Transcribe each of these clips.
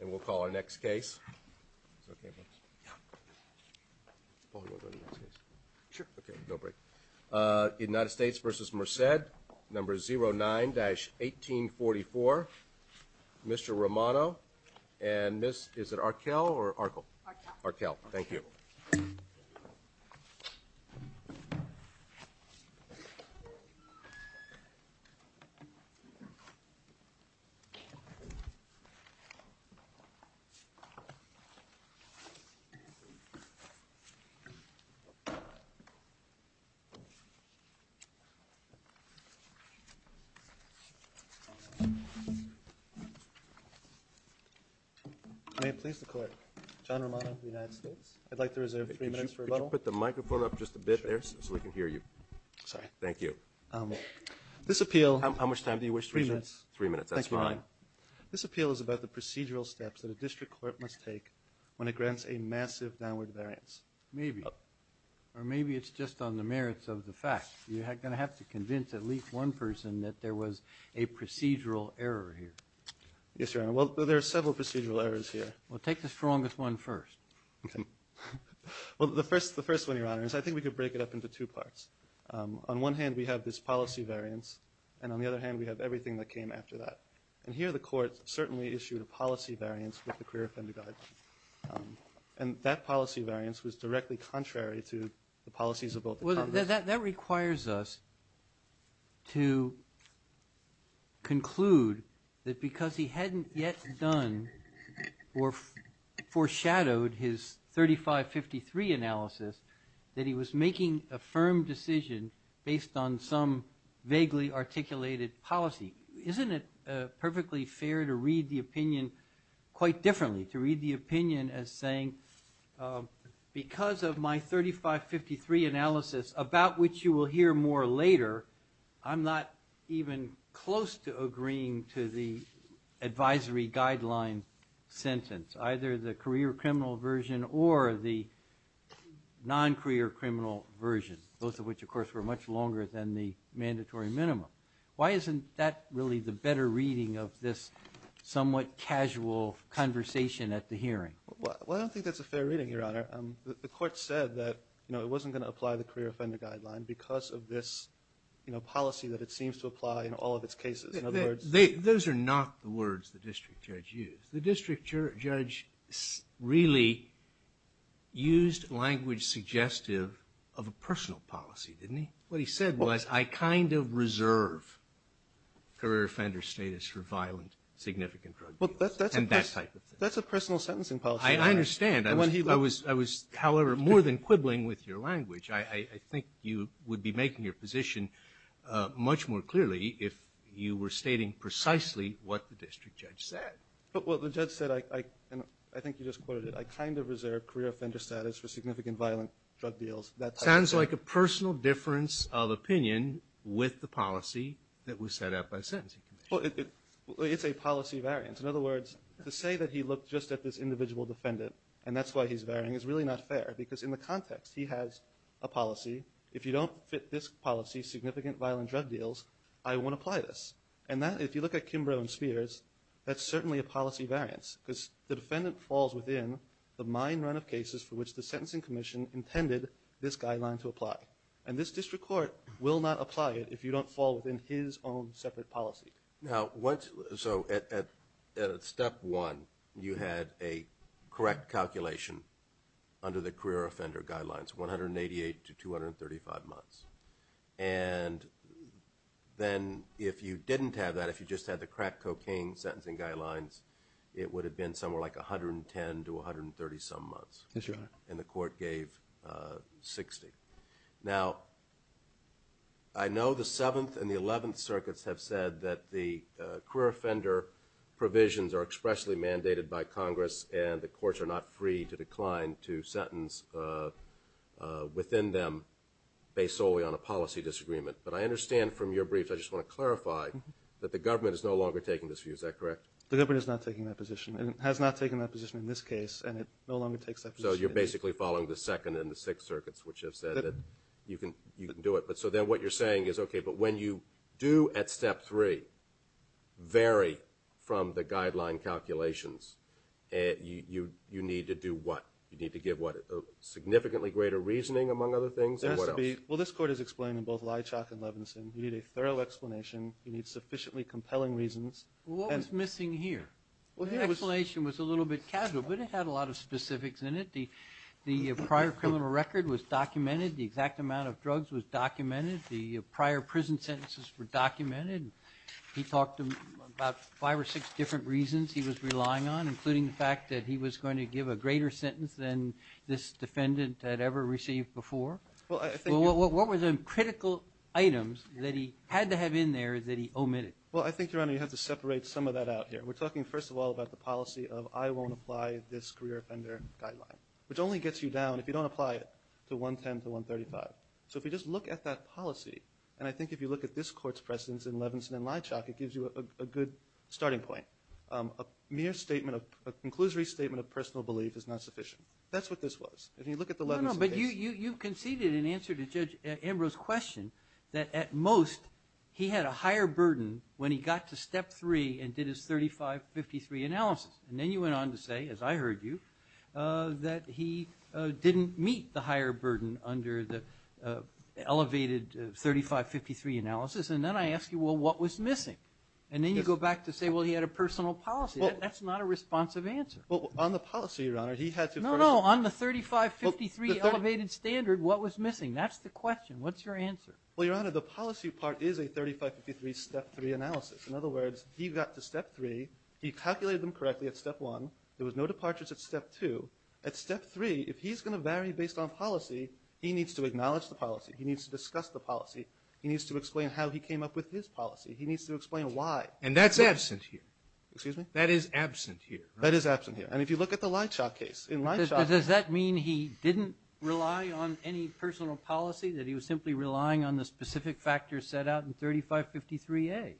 and we'll call our next case. United States v. Merced, number 09-1844, Mr. Romano and Ms. – is it Arkell or Arkell? I'm pleased to call it. John Romano, United States. I'd like to reserve three minutes for rebuttal. Could you put the microphone up just a bit there so we can hear you? Sorry. Thank you. This appeal – How much time do you wish to reserve? Three minutes. Three minutes. That's fine. This appeal is about the procedural steps that a district court must take when it grants a massive downward variance. Maybe. Or maybe it's just on the merits of the fact. You're going to have to convince at least one person that there was a procedural error here. Yes, Your Honor. Well, there are several procedural errors here. Well, take the strongest one first. Okay. Well, the first one, Your Honor, is I think we could break it up into two parts. On one hand, we have this policy variance and on the other hand, we have everything that came after that. And here, the court certainly issued a policy variance with the career offender guideline. And that policy variance was directly contrary to the policies of both the Congress – Well, that requires us to conclude that because he hadn't yet done or foreshadowed his 3553 analysis, that he was making a firm decision based on some vaguely articulated policy. Isn't it perfectly fair to read the opinion quite differently? To read the opinion as saying, because of my 3553 analysis, about which you will hear more later, I'm not even close to agreeing to the advisory guideline sentence, either the career criminal version or the non-career criminal version, both of which, of course, were much longer than the mandatory minimum. Why isn't that really the better reading of this somewhat casual conversation at the time? He said that, you know, it wasn't going to apply the career offender guideline because of this, you know, policy that it seems to apply in all of its cases. In other words – Those are not the words the district judge used. The district judge really used language suggestive of a personal policy, didn't he? What he said was, I kind of reserve career offender status for violent, significant drug deals and that type of thing. That's a personal sentencing policy. I understand. I was, however, more than quibbling with your language. I think you would be making your position much more clearly if you were stating precisely what the district judge said. Well, the judge said, and I think you just quoted it, I kind of reserve career offender status for significant violent drug deals, that type of thing. Sounds like a personal difference of opinion with the policy that was set up by the Sentencing Commission. Well, it's a policy variance. In other words, to say that he looked just at this individual defendant and that's why he's varying is really not fair because in the context he has a policy, if you don't fit this policy, significant violent drug deals, I won't apply this. And that, if you look at Kimbrough and Spears, that's certainly a policy variance because the defendant falls within the mine run of cases for which the Sentencing Commission intended this guideline to apply. And this district court will not apply it if you don't fall within his own separate policy. Now, so at step one, you had a correct calculation under the career offender guidelines, 188 to 235 months. And then if you didn't have that, if you just had the crack cocaine sentencing guidelines, it would have been somewhere like 110 to 130 some months. Yes, Your Honor. And the court gave 60. Now, I know the 7th and the 11th circuits have said that the career offender provisions are expressly mandated by Congress and the courts are not free to decline to sentence within them based solely on a policy disagreement. But I understand from your briefs, I just want to clarify, that the government is no longer taking this view. Is that correct? The government is not taking that position. It has not taken that position in this case and it no longer takes that position. So you're basically following the 2nd and the 6th circuits, which have said that you can do it. So then what you're saying is, okay, but when you do at step three vary from the guideline calculations, you need to do what? You need to give what? Significantly greater reasoning, among other things, or what else? There has to be. Well, this court has explained in both Leitchock and Levinson, you need a thorough explanation. You need sufficiently compelling reasons. Well, what was missing here? The explanation was a little bit casual, but it had a lot of specifics in it. The prior criminal record was documented. The exact amount of drugs was documented. The prior prison sentences were documented. He talked about five or six different reasons he was relying on, including the fact that he was going to give a greater sentence than this defendant had ever received before. Well, I think you're – Well, what were the critical items that he had to have in there that he omitted? Well, I think, Your Honor, you have to separate some of that out here. We're talking, first of all, about the policy of, I won't apply this career offender guideline, which only gets you down, if you don't apply it, to 110 to 135. So if you just look at that policy, and I think if you look at this court's precedents in Levinson and Leitchock, it gives you a good starting point. A mere statement of – a conclusory statement of personal belief is not sufficient. That's what this was. If you look at the Levinson case – No, no, but you conceded in answer to Judge Ambrose's question that, at most, he had a higher burden when he got to step three and did his 3553 analysis. And then you went on to say, as I heard you, that he didn't meet the higher burden under the elevated 3553 analysis. And then I ask you, well, what was missing? And then you go back to say, well, he had a personal policy. That's not a responsive answer. Well, on the policy, Your Honor, he had to – No, no, on the 3553 elevated standard, what was missing? That's the question. What's your answer? Well, Your Honor, the policy part is a 3553 step three analysis. In other words, he got to step three. He calculated them correctly at step one. There was no departures at step two. At step three, if he's going to vary based on policy, he needs to acknowledge the policy. He needs to discuss the policy. He needs to explain how he came up with his policy. He needs to explain why. And that's absent here. Excuse me? That is absent here. That is absent here. And if you look at the Leitchock case, in Leitchock – But does that mean he didn't rely on any personal policy, that he was simply relying on the specific factors set out in 3553A?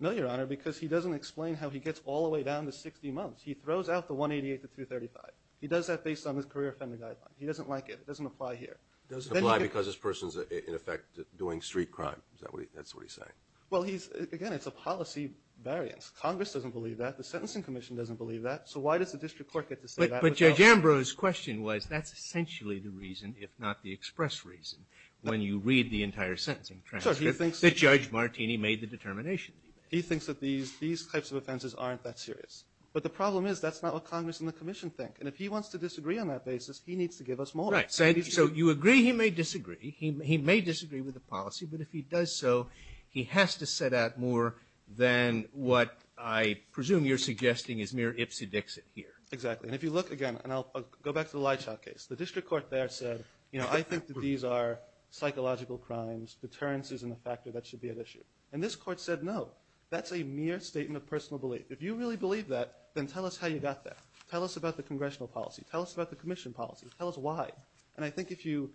No, Your Honor, because he doesn't explain how he gets all the way down to 60 months. He throws out the 188 to 235. He does that based on his career offender guideline. He doesn't like it. It doesn't apply here. It doesn't apply because this person's, in effect, doing street crime. Is that what he – that's what he's saying? Well, he's – again, it's a policy variance. Congress doesn't believe that. The Sentencing Commission doesn't believe that. So why does the district clerk get to say that? But Judge Ambrose's question was, that's essentially the reason, if not the express reason, when you read the entire sentencing transcript, that Judge Martini made the determination that he made. He thinks that these types of offenses aren't that serious. But the problem is, that's not what Congress and the Commission think. And if he wants to disagree on that basis, he needs to give us more. Right. So you agree he may disagree. He may disagree with the policy. But if he does so, he has to set out more than what I presume you're suggesting is mere ipsy-dixit here. Exactly. And if you look again, and I'll go back to the Leitchau case, the district court there said, you know, I think that these are psychological crimes, deterrences in the factor that should be at issue. And this court said, no, that's a mere statement of personal belief. If you really believe that, then tell us how you got there. Tell us about the congressional policy. Tell us about the Commission policy. Tell us why. And I think if you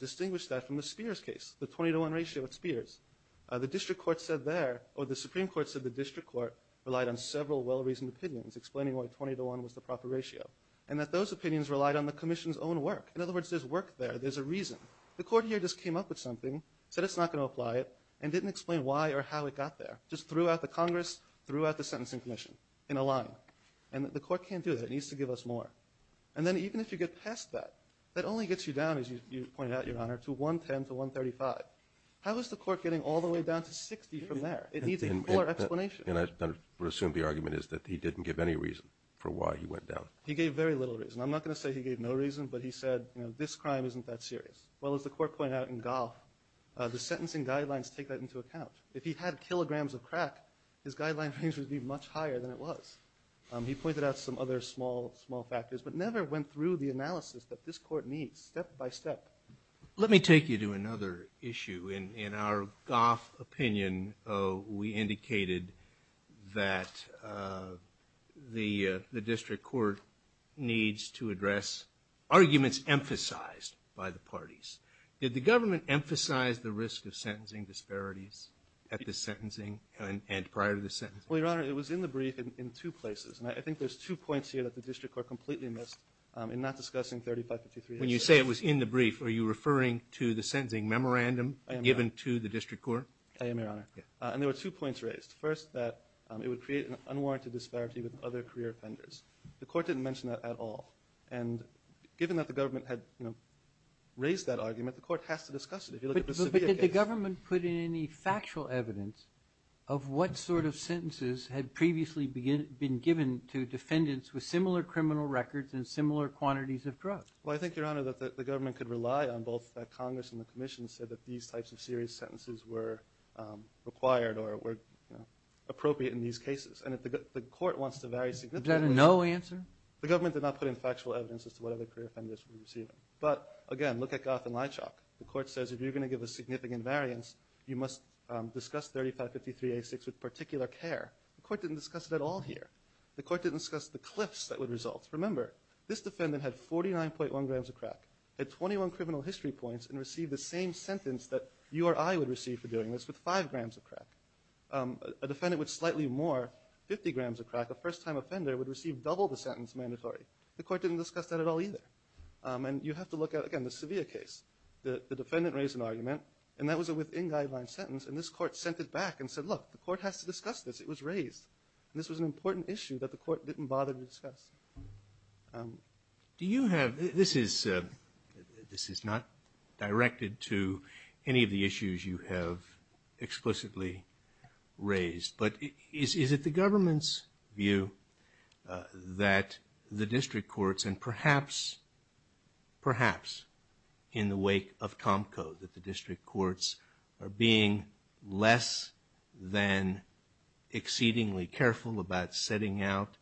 distinguish that from the Spears case, the 20 to 1 ratio at Spears, the district court said there – or the Supreme Court said the district court relied on several well-reasoned opinions explaining why 20 to 1 was the proper ratio, and that those opinions relied on the Commission's own work. In other words, there's work there. There's a reason. The court here just came up with something, said it's not going to apply it, and didn't explain why or how it got there. Just threw out the Congress, threw out the sentencing commission in a line. And the court can't do that. It needs to give us more. And then even if you get past that, that only gets you down, as you pointed out, Your Honor, to 110 to 135. How is the court getting all the way down to 60 from there? It needs a fuller explanation. And I would assume the argument is that he didn't give any reason for why he went down. He gave very little reason. I'm not going to say he gave no reason, but he said, you know, this crime isn't that serious. Well, as the court pointed out in Goff, the sentencing guidelines take that into account. If he had kilograms of crack, his guideline range would be much higher than it was. He pointed out some other small, small factors, but never went through the analysis that this court needs, step by step. Let me take you to another issue. In our Goff opinion, we indicated that the district court needs to address arguments emphasized by the parties. Did the government emphasize the risk of sentencing disparities at the sentencing and prior to the sentencing? Well, Your Honor, it was in the brief in two places. And I think there's two points here that the district court completely missed in not discussing 3553 issues. When you say it was in the brief, are you referring to the sentencing memorandum given to the district court? I am, Your Honor. And there were two points raised. First, that it would create an unwarranted disparity with other career offenders. The court didn't mention that at all. And given that the government had, you know, raised that argument, the court has to discuss it if you look at the Sevita case. But did the government put in any factual evidence of what sort of sentences had previously been given to defendants with similar criminal records and similar quantities of drugs? Well, I think, Your Honor, that the government could rely on both that Congress and the Commission said that these types of serious sentences were required or were appropriate in these cases. And if the court wants to vary significantly... Is that a no answer? The government did not put in factual evidence as to what other career offenders were receiving. But again, look at Goff and Leitchock. The court says if you're going to give a significant variance, you must discuss 3553A6 with particular care. The court didn't discuss it at all here. The court didn't discuss the cliffs that would result. Remember, this defendant had 49.1 grams of crack, had 21 criminal history points, and received the same sentence that you or I would receive for doing this with 5 grams of crack. A defendant with slightly more, 50 grams of crack, a first-time offender, would receive double the sentence mandatory. The court didn't discuss that at all either. And you have to look at, again, the Sevita case. The defendant raised an argument, and that was a within-guideline sentence, and this court sent it back and said, look, the court has to discuss this. It was raised. This was an important issue that the court didn't bother to discuss. Do you have, this is, this is not directed to any of the issues you have explicitly raised, but is it the government's view that the district courts, and perhaps, perhaps in the wake of the Sevita case, are increasingly careful about setting out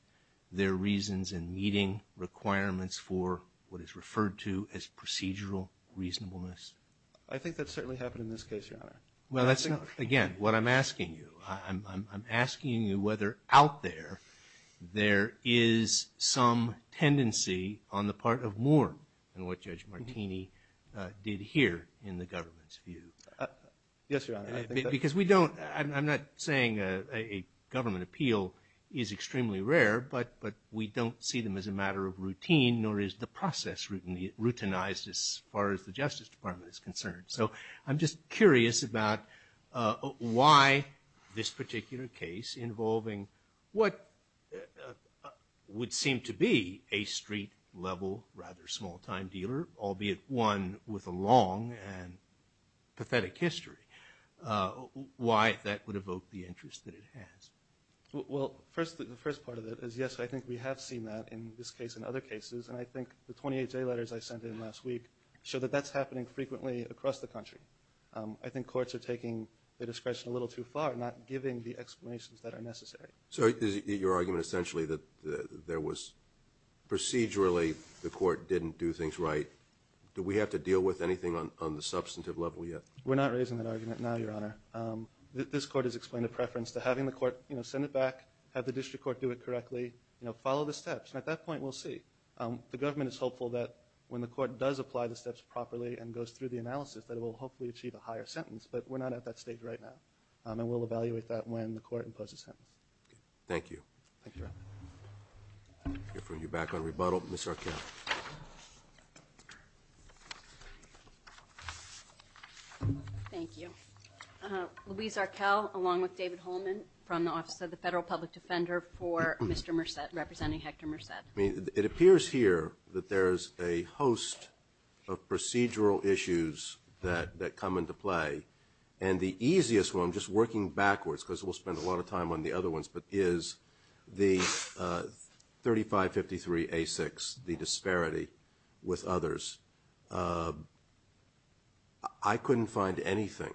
their reasons and meeting requirements for what is referred to as procedural reasonableness? I think that's certainly happened in this case, Your Honor. Well, that's not, again, what I'm asking you. I'm asking you whether out there, there is some tendency on the part of Moore, and what Judge Martini did here in the government's view. Yes, Your Honor, I think that... Because we don't, I'm not saying a government appeal is extremely rare, but we don't see them as a matter of routine, nor is the process routinized as far as the Justice Department is concerned. So I'm just curious about why this particular case involving what would seem to be a street-level, rather small-time dealer, albeit one with a long and pathetic history, why that would evoke the interest that it has. Well, first, the first part of it is, yes, I think we have seen that in this case and other cases, and I think the 28 J letters I sent in last week show that that's happening frequently across the country. I think courts are taking the discretion a little too far, not giving the explanations that are necessary. So your argument, essentially, that there was, procedurally, the court didn't do things right, do we have to deal with anything on the substantive level yet? We're not raising that argument now, Your Honor. This court has explained a preference to having the court send it back, have the district court do it correctly, follow the steps, and at that point, we'll see. The government is hopeful that when the court does apply the steps properly and goes through the analysis, that it will hopefully achieve a higher sentence, but we're not at that stage right now, and we'll evaluate that when the court imposes sentence. Thank you. Thank you, Your Honor. We're back on rebuttal. Ms. Arkell. Thank you. Louise Arkell, along with David Holman from the Office of the Federal Public Defender for Mr. Merced, representing Hector Merced. It appears here that there's a host of procedural issues that come into play, and the easiest one, I'm just working backwards because we'll spend a lot of time on the other ones, but is the 3553A6, the disparity with others. I couldn't find anything,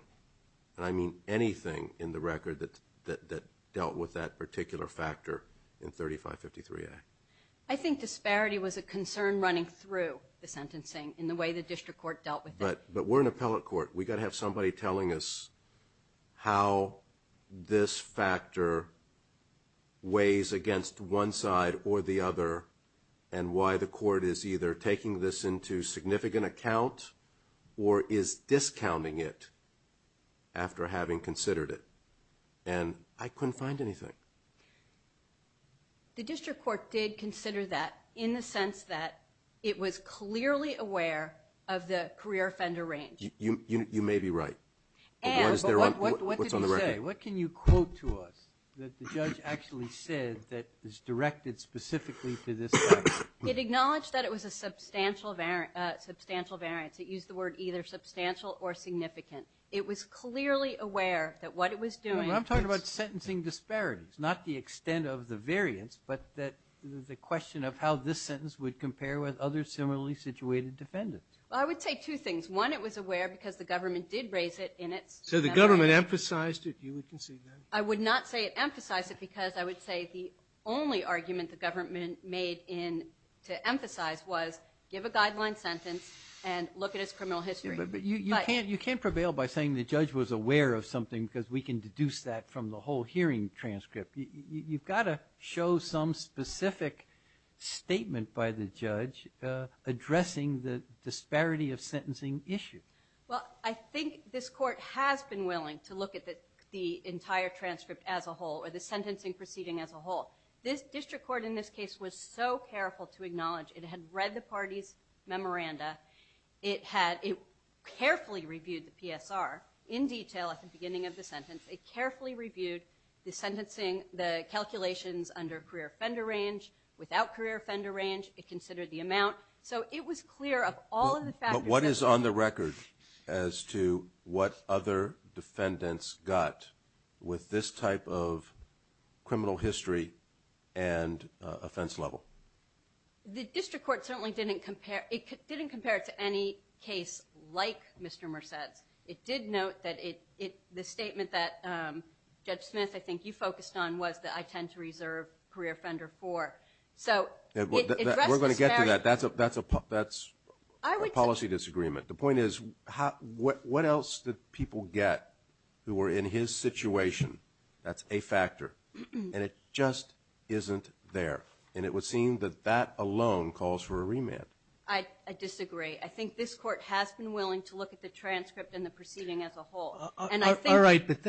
and I mean anything in the record that dealt with that particular factor in 3553A. I think disparity was a concern running through the sentencing in the way the district court dealt with it. But we're an appellate court. We've got to have somebody telling us how this factor weighs against one side or the other, and why the court is either taking this into significant account or is discounting it after having considered it, and I couldn't find anything. The district court did consider that in the sense that it was clearly aware of the career offender range. You may be right, but what's on the record? What can you quote to us that the judge actually said that is directed specifically to this sentence? It acknowledged that it was a substantial variance. It used the word either substantial or significant. It was clearly aware that what it was doing was... I'm talking about sentencing disparities, not the extent of the variance, but the question of how this sentence would compare with other similarly situated defendants. Well, I would say two things. One, it was aware because the government did raise it in its... So the government emphasized it, you would concede that? I would not say it emphasized it because I would say the only argument the government made to emphasize was, give a guideline sentence and look at his criminal history. You can't prevail by saying the judge was aware of something because we can deduce that from the whole hearing transcript. You've got to show some specific statement by the issue. Well, I think this court has been willing to look at the entire transcript as a whole or the sentencing proceeding as a whole. This district court in this case was so careful to acknowledge it had read the party's memoranda. It carefully reviewed the PSR in detail at the beginning of the sentence. It carefully reviewed the sentencing, the calculations under career offender range, without career offender range. It considered the amount. So it was clear of all of the factors... What is on the record as to what other defendants got with this type of criminal history and offense level? The district court certainly didn't compare it to any case like Mr. Merced's. It did note that the statement that Judge Smith, I think you focused on, was that I tend to reserve career offender for. We're going to get to that. That's a policy disagreement. The point is, what else did people get who were in his situation? That's a factor. And it just isn't there. And it would seem that that alone calls for a remand. I disagree. I think this court has been willing to look at the transcript and the proceeding as a whole. All right, but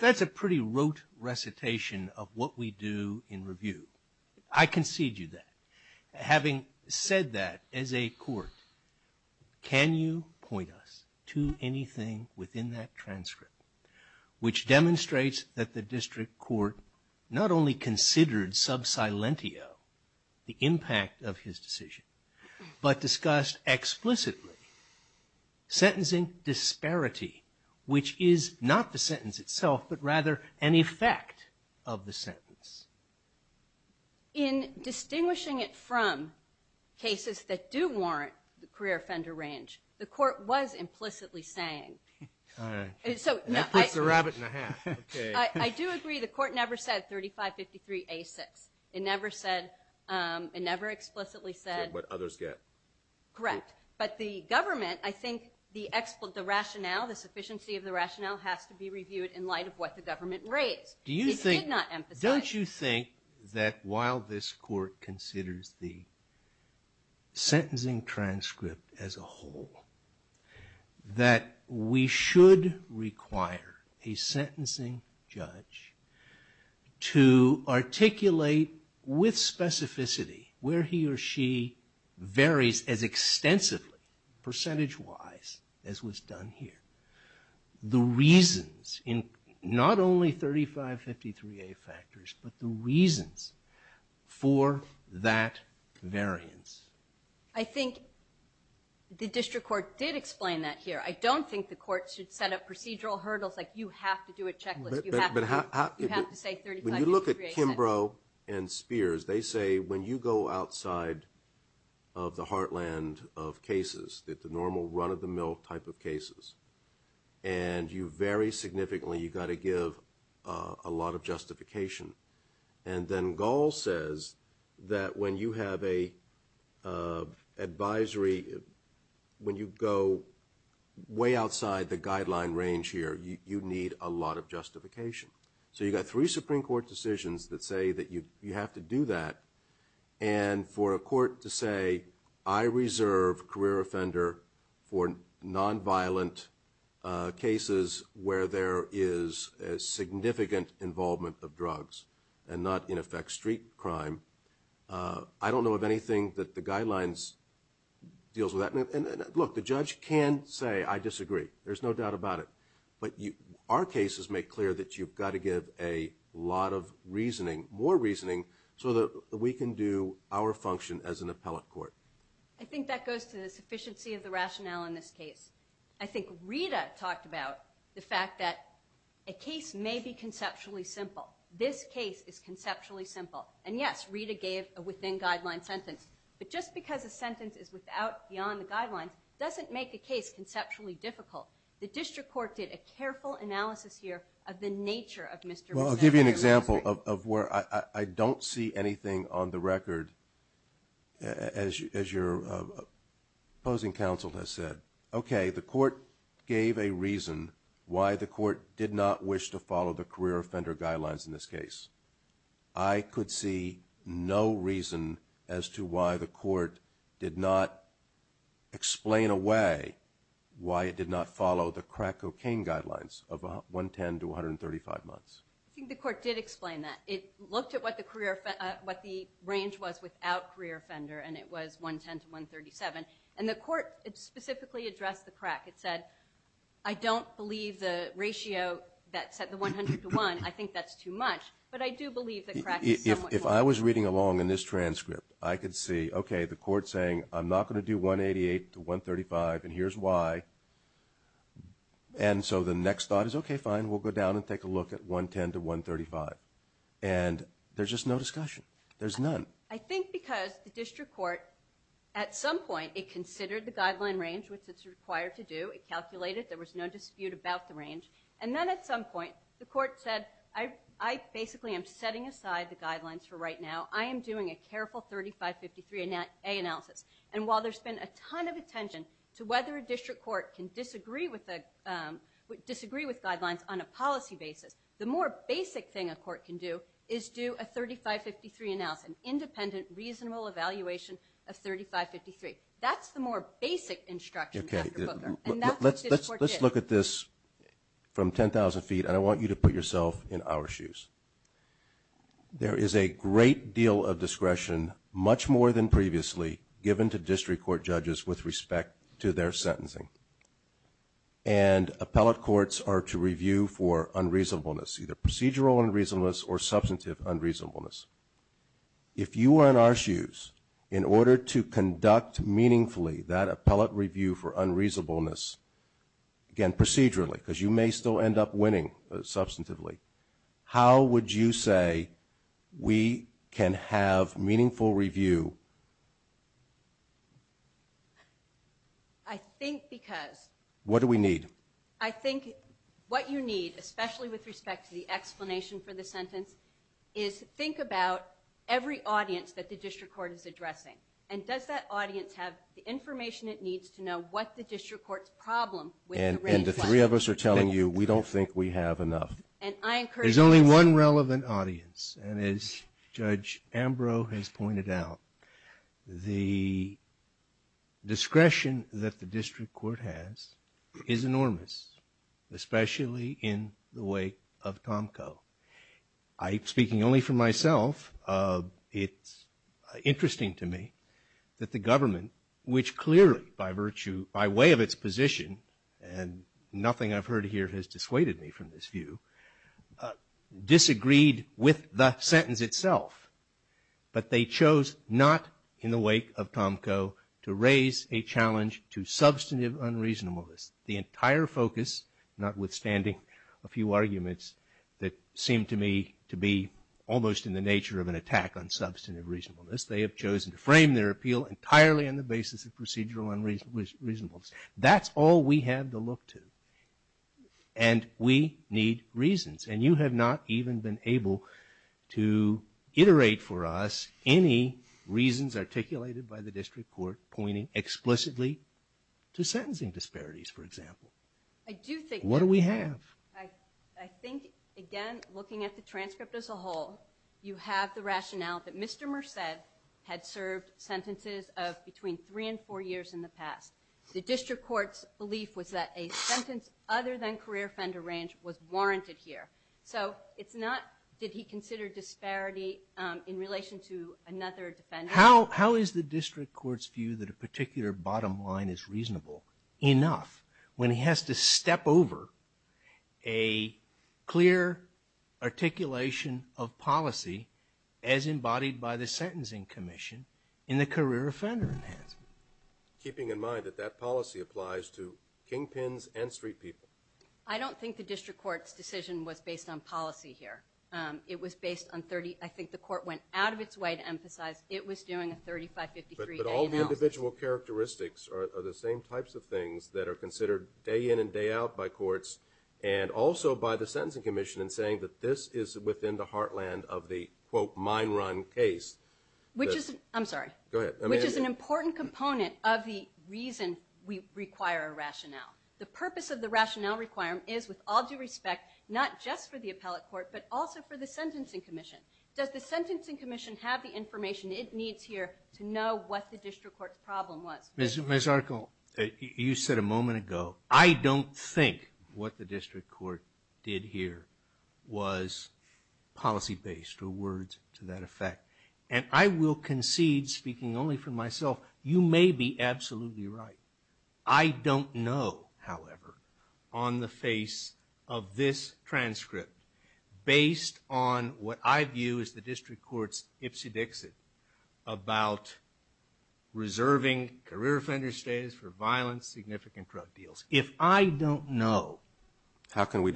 that's a pretty rote recitation of what we do in review. I concede you that. Having said that, as a court, can you point us to anything within that transcript which demonstrates that the district court not only considered sub silentio, the impact of his decision, but discussed explicitly sentencing disparity, which is not the sentence itself, but rather an effect of the sentence? In distinguishing it from cases that do warrant the career offender range, the court was implicitly saying... All right. That puts the rabbit in a hat. I do agree the court never said 3553A6. It never explicitly said... Said what others get. Correct. But the government, I think the rationale, the sufficiency of the rationale has to be reviewed in light of what the government raised. It did not emphasize... Don't you think that while this court considers the sentencing transcript as a whole, that we should require a sentencing judge to articulate with specificity where he or she varies in as extensively, percentage wise, as was done here? The reasons in not only 3553A factors, but the reasons for that variance. I think the district court did explain that here. I don't think the court should set up procedural hurdles like you have to do a checklist. You have to say 3553A6. Kimbrough and Spears, they say when you go outside of the heartland of cases, the normal run of the mill type of cases, and you vary significantly, you've got to give a lot of justification. And then Gall says that when you have an advisory, when you go way outside the guideline range here, you need a lot of justification. So you've got three Supreme Court decisions that say that you have to do that. And for a court to say, I reserve career offender for nonviolent cases where there is significant involvement of drugs and not in effect street crime, I don't know of anything that the guidelines deals with that. And look, the judge can say, I disagree. There's no doubt about it. But our cases make clear that you've got to give a lot of reasoning, more reasoning, so that we can do our function as an appellate court. I think that goes to the sufficiency of the rationale in this case. I think Rita talked about the fact that a case may be conceptually simple. This case is conceptually simple. And yes, Rita gave a within guideline sentence. But just because a sentence is without, beyond the guidelines, doesn't make a case conceptually difficult. The district court did a careful analysis here of the nature of Mr. Brunetti's reasoning. Well, I'll give you an example of where I don't see anything on the record, as your opposing counsel has said. Okay, the court gave a reason why the court did not wish to follow the career offender guidelines in this case. I could see no reason as to why the court did not explain away why it did not follow the crack cocaine guidelines of Mr. Brunetti. I think the court did explain that. It looked at what the range was without career offender, and it was 110 to 137. And the court specifically addressed the crack. It said, I don't believe the ratio that said the 100 to 1, I think that's too much. But I do believe the crack is somewhat more. If I was reading along in this transcript, I could see, okay, the court saying, I'm not going to do 188 to 135, and here's why. And so the next thought is, okay, fine, we'll go down and take a look at 110 to 135. And there's just no discussion. There's none. I think because the district court, at some point, it considered the guideline range, which it's required to do. It calculated. There was no dispute about the range. And then at some point, the court said, I basically am setting aside the guidelines for right now. I am doing a careful 3553A analysis. And while there's been a ton of attention to whether a district court can disagree with guidelines on a policy basis, the more basic thing a court can do is do a 3553 analysis, an independent, reasonable evaluation of 3553. That's the more basic instruction, Dr. Booker. And that's what this court did. Let's look at this from 10,000 feet, and I want you to put yourself in our shoes. There is a great deal of discretion, much more than previously, given to district court judges with respect to their sentencing. And appellate courts are to review for unreasonableness, either procedural unreasonableness or substantive unreasonableness. If you were in our shoes, in order to conduct meaningfully that appellate review for unreasonableness, again, procedurally, because you may still end up winning substantively, how would you say we can have meaningful review? I think because... What do we need? I think what you need, especially with respect to the explanation for the sentence, is think about every audience that the district court is addressing. And does that audience have the information it needs to know what the district court's problem with the range was? And the three of us are telling you, we don't think we have enough. And I encourage... There's only one relevant audience. And as Judge Ambrose has pointed out, the discretion that the district court has is enormous, especially in the way of Tomko. I'm speaking only for myself. It's interesting to me that the government, which clearly, by virtue, by way of its position and nothing I've heard here has dissuaded me from this view, disagreed with the sentence itself. But they chose not, in the wake of Tomko, to raise a challenge to substantive unreasonableness. The entire focus, notwithstanding a few arguments that seem to me to be almost in the nature of an attack on substantive reasonableness, they have chosen to frame their appeal entirely on the basis of procedural unreasonableness. That's all we have to look to. And we need reasons. And you have not even been able to iterate for us any reasons articulated by the district court pointing explicitly to sentencing disparities, for example. I do think... What do we have? I think, again, looking at the transcript as a whole, you have the rationale that Mr. Tomko has sentences of between three and four years in the past. The district court's belief was that a sentence other than career offender range was warranted here. So it's not, did he consider disparity in relation to another defendant? How is the district court's view that a particular bottom line is reasonable enough when he has to step over a clear articulation of policy as embodied by the Sentencing Commission in a career offender enhancement? Keeping in mind that that policy applies to kingpins and street people. I don't think the district court's decision was based on policy here. It was based on 30, I think the court went out of its way to emphasize it was doing a 35-53 day in-house. But all the individual characteristics are the same types of things that are considered day in and day out by courts and also by the Sentencing Commission in saying that this is within the heartland of the, quote, mine run case. Which is, I'm sorry? Go ahead. Which is an important component of the reason we require a rationale. The purpose of the rationale requirement is, with all due respect, not just for the appellate court but also for the Sentencing Commission. Does the Sentencing Commission have the information it needs here to know what the district court's problem was? Ms. Archul, you said a moment ago, I don't think what the district court did here was policy-based or words to that effect. And I will concede, speaking only for myself, you may be absolutely right. I don't know, however, on the face of this transcript, based on what I view as the district court's ipsy-dixit about reserving career offender status for violence, significant drug deals. If I don't know, what should I do? How can we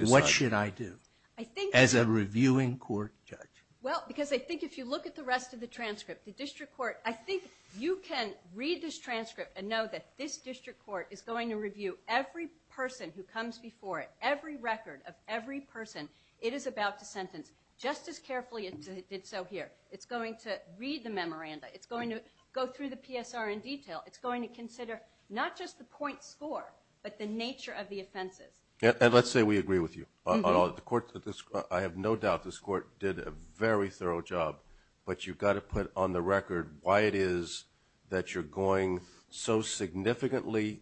decide? As a reviewing court judge. Well, because I think if you look at the rest of the transcript, the district court, I think you can read this transcript and know that this district court is going to review every person who comes before it, every record of every person it is about to sentence just as carefully as it did so here. It's going to read the memoranda. It's going to go through the PSR in detail. It's going to consider not just the point score but the nature of the offenses. And let's say we agree with you. I have no doubt this court did a very thorough job, but you've got to put on the record why it is that you're going so significantly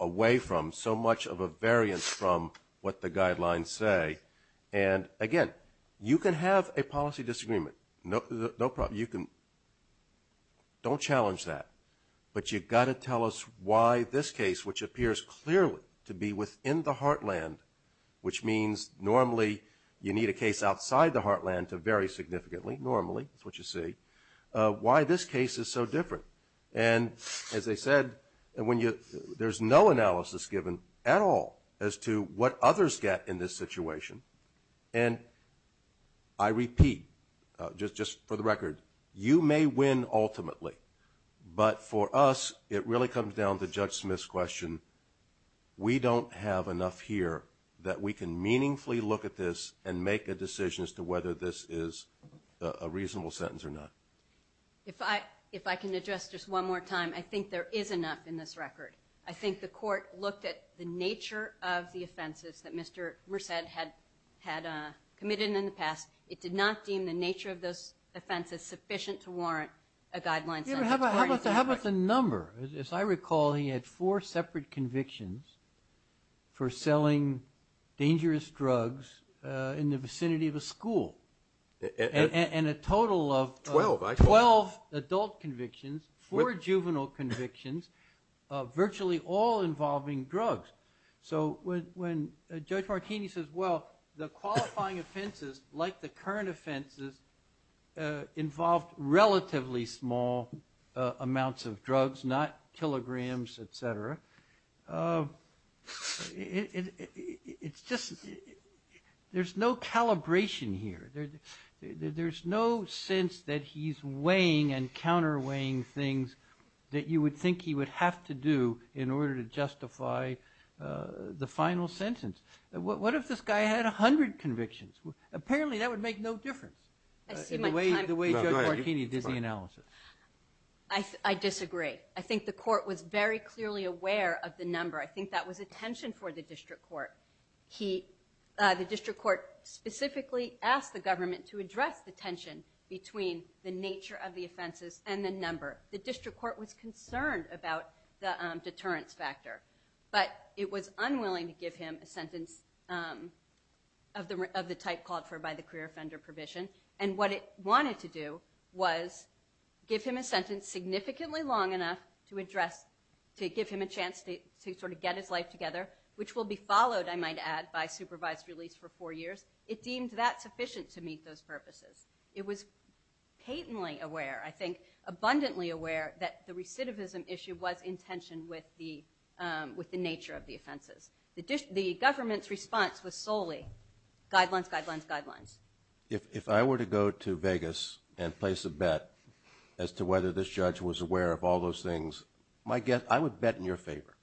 away from, so much of a variance from what the guidelines say. And again, you can have a policy disagreement. No problem. You can. Don't challenge that. But you've got to tell us why this case, which appears clearly to be within the heartland, which means normally you need a case outside the heartland to vary significantly, normally, that's what you see, why this case is so different. And as I said, there's no analysis given at all as to what others get in this situation. And I repeat, just for the record, you may win ultimately. But for us, it really comes down to Judge Smith's question. We don't have enough here that we can meaningfully look at this and make a decision as to whether this is a reasonable sentence or not. If I can address this one more time, I think there is enough in this record. I think the court looked at the nature of the offenses that Mr. Merced had committed in the past. It did not deem the nature of those offenses sufficient to warrant a guideline sentence. How about the number? As I recall, he had four separate convictions for selling dangerous drugs in the vicinity of a school. And a total of 12 adult convictions, four juvenile convictions, virtually all involving drugs. So when Judge Martini says, well, the qualifying offenses like the current offenses involved relatively small amounts of drugs, not kilograms, etc., it's just there's no calibration here. There's no sense that he's weighing and counter-weighing things that you would think he would have to do in order to justify the final sentence. What if this guy had 100 convictions? Apparently, that would make no difference in the way Judge Martini does the analysis. I disagree. I think the court was very clearly aware of the number. I think that was a tension for the district court. The district court specifically asked the government to address the tension between the nature of the offenses and the number. The district court was concerned about the deterrence factor. But it was unwilling to give him a sentence of the type called for by the career offender provision. And what it wanted to do was give him a sentence significantly long enough to give him a chance to get his life together, which will be followed, I might add, by supervised release for four years. It deemed that sufficient to meet those issues was in tension with the nature of the offenses. The government's response was solely guidelines, guidelines, guidelines. If I were to go to Vegas and place a bet as to whether this judge was aware of all those things, I would bet in your favor.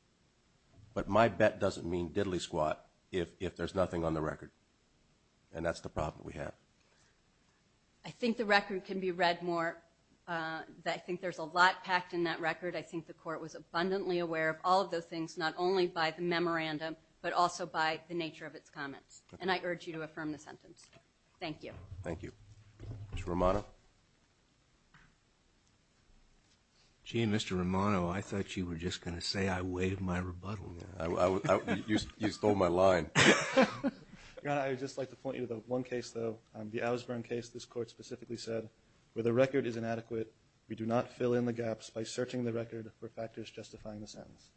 But my bet doesn't mean diddly-squat if there's nothing on the record. And that's the problem we have. I think the record can be read more. I think there's a lot packed in that record. I think the court was abundantly aware of all of those things, not only by the memorandum, but also by the nature of its comments. And I urge you to affirm the sentence. Thank you. Thank you. Mr. Romano? Gee, Mr. Romano, I thought you were just going to say I waived my rebuttal. You stole my line. Your Honor, I would just like to point you to the one case, though, the Owsburn case this Court specifically said, where the record is inadequate, we do not fill in the gaps by searching the record for factors justifying the sentence.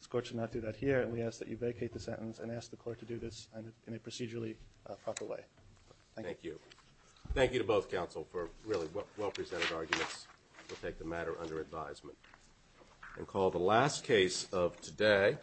This Court should not do that here, and we ask that you vacate the sentence and ask the Court to do this in a procedurally proper way. Thank you. Thank you. Thank you to both counsel for really well-presented arguments. We'll take the matter under advisement and call the last case of today,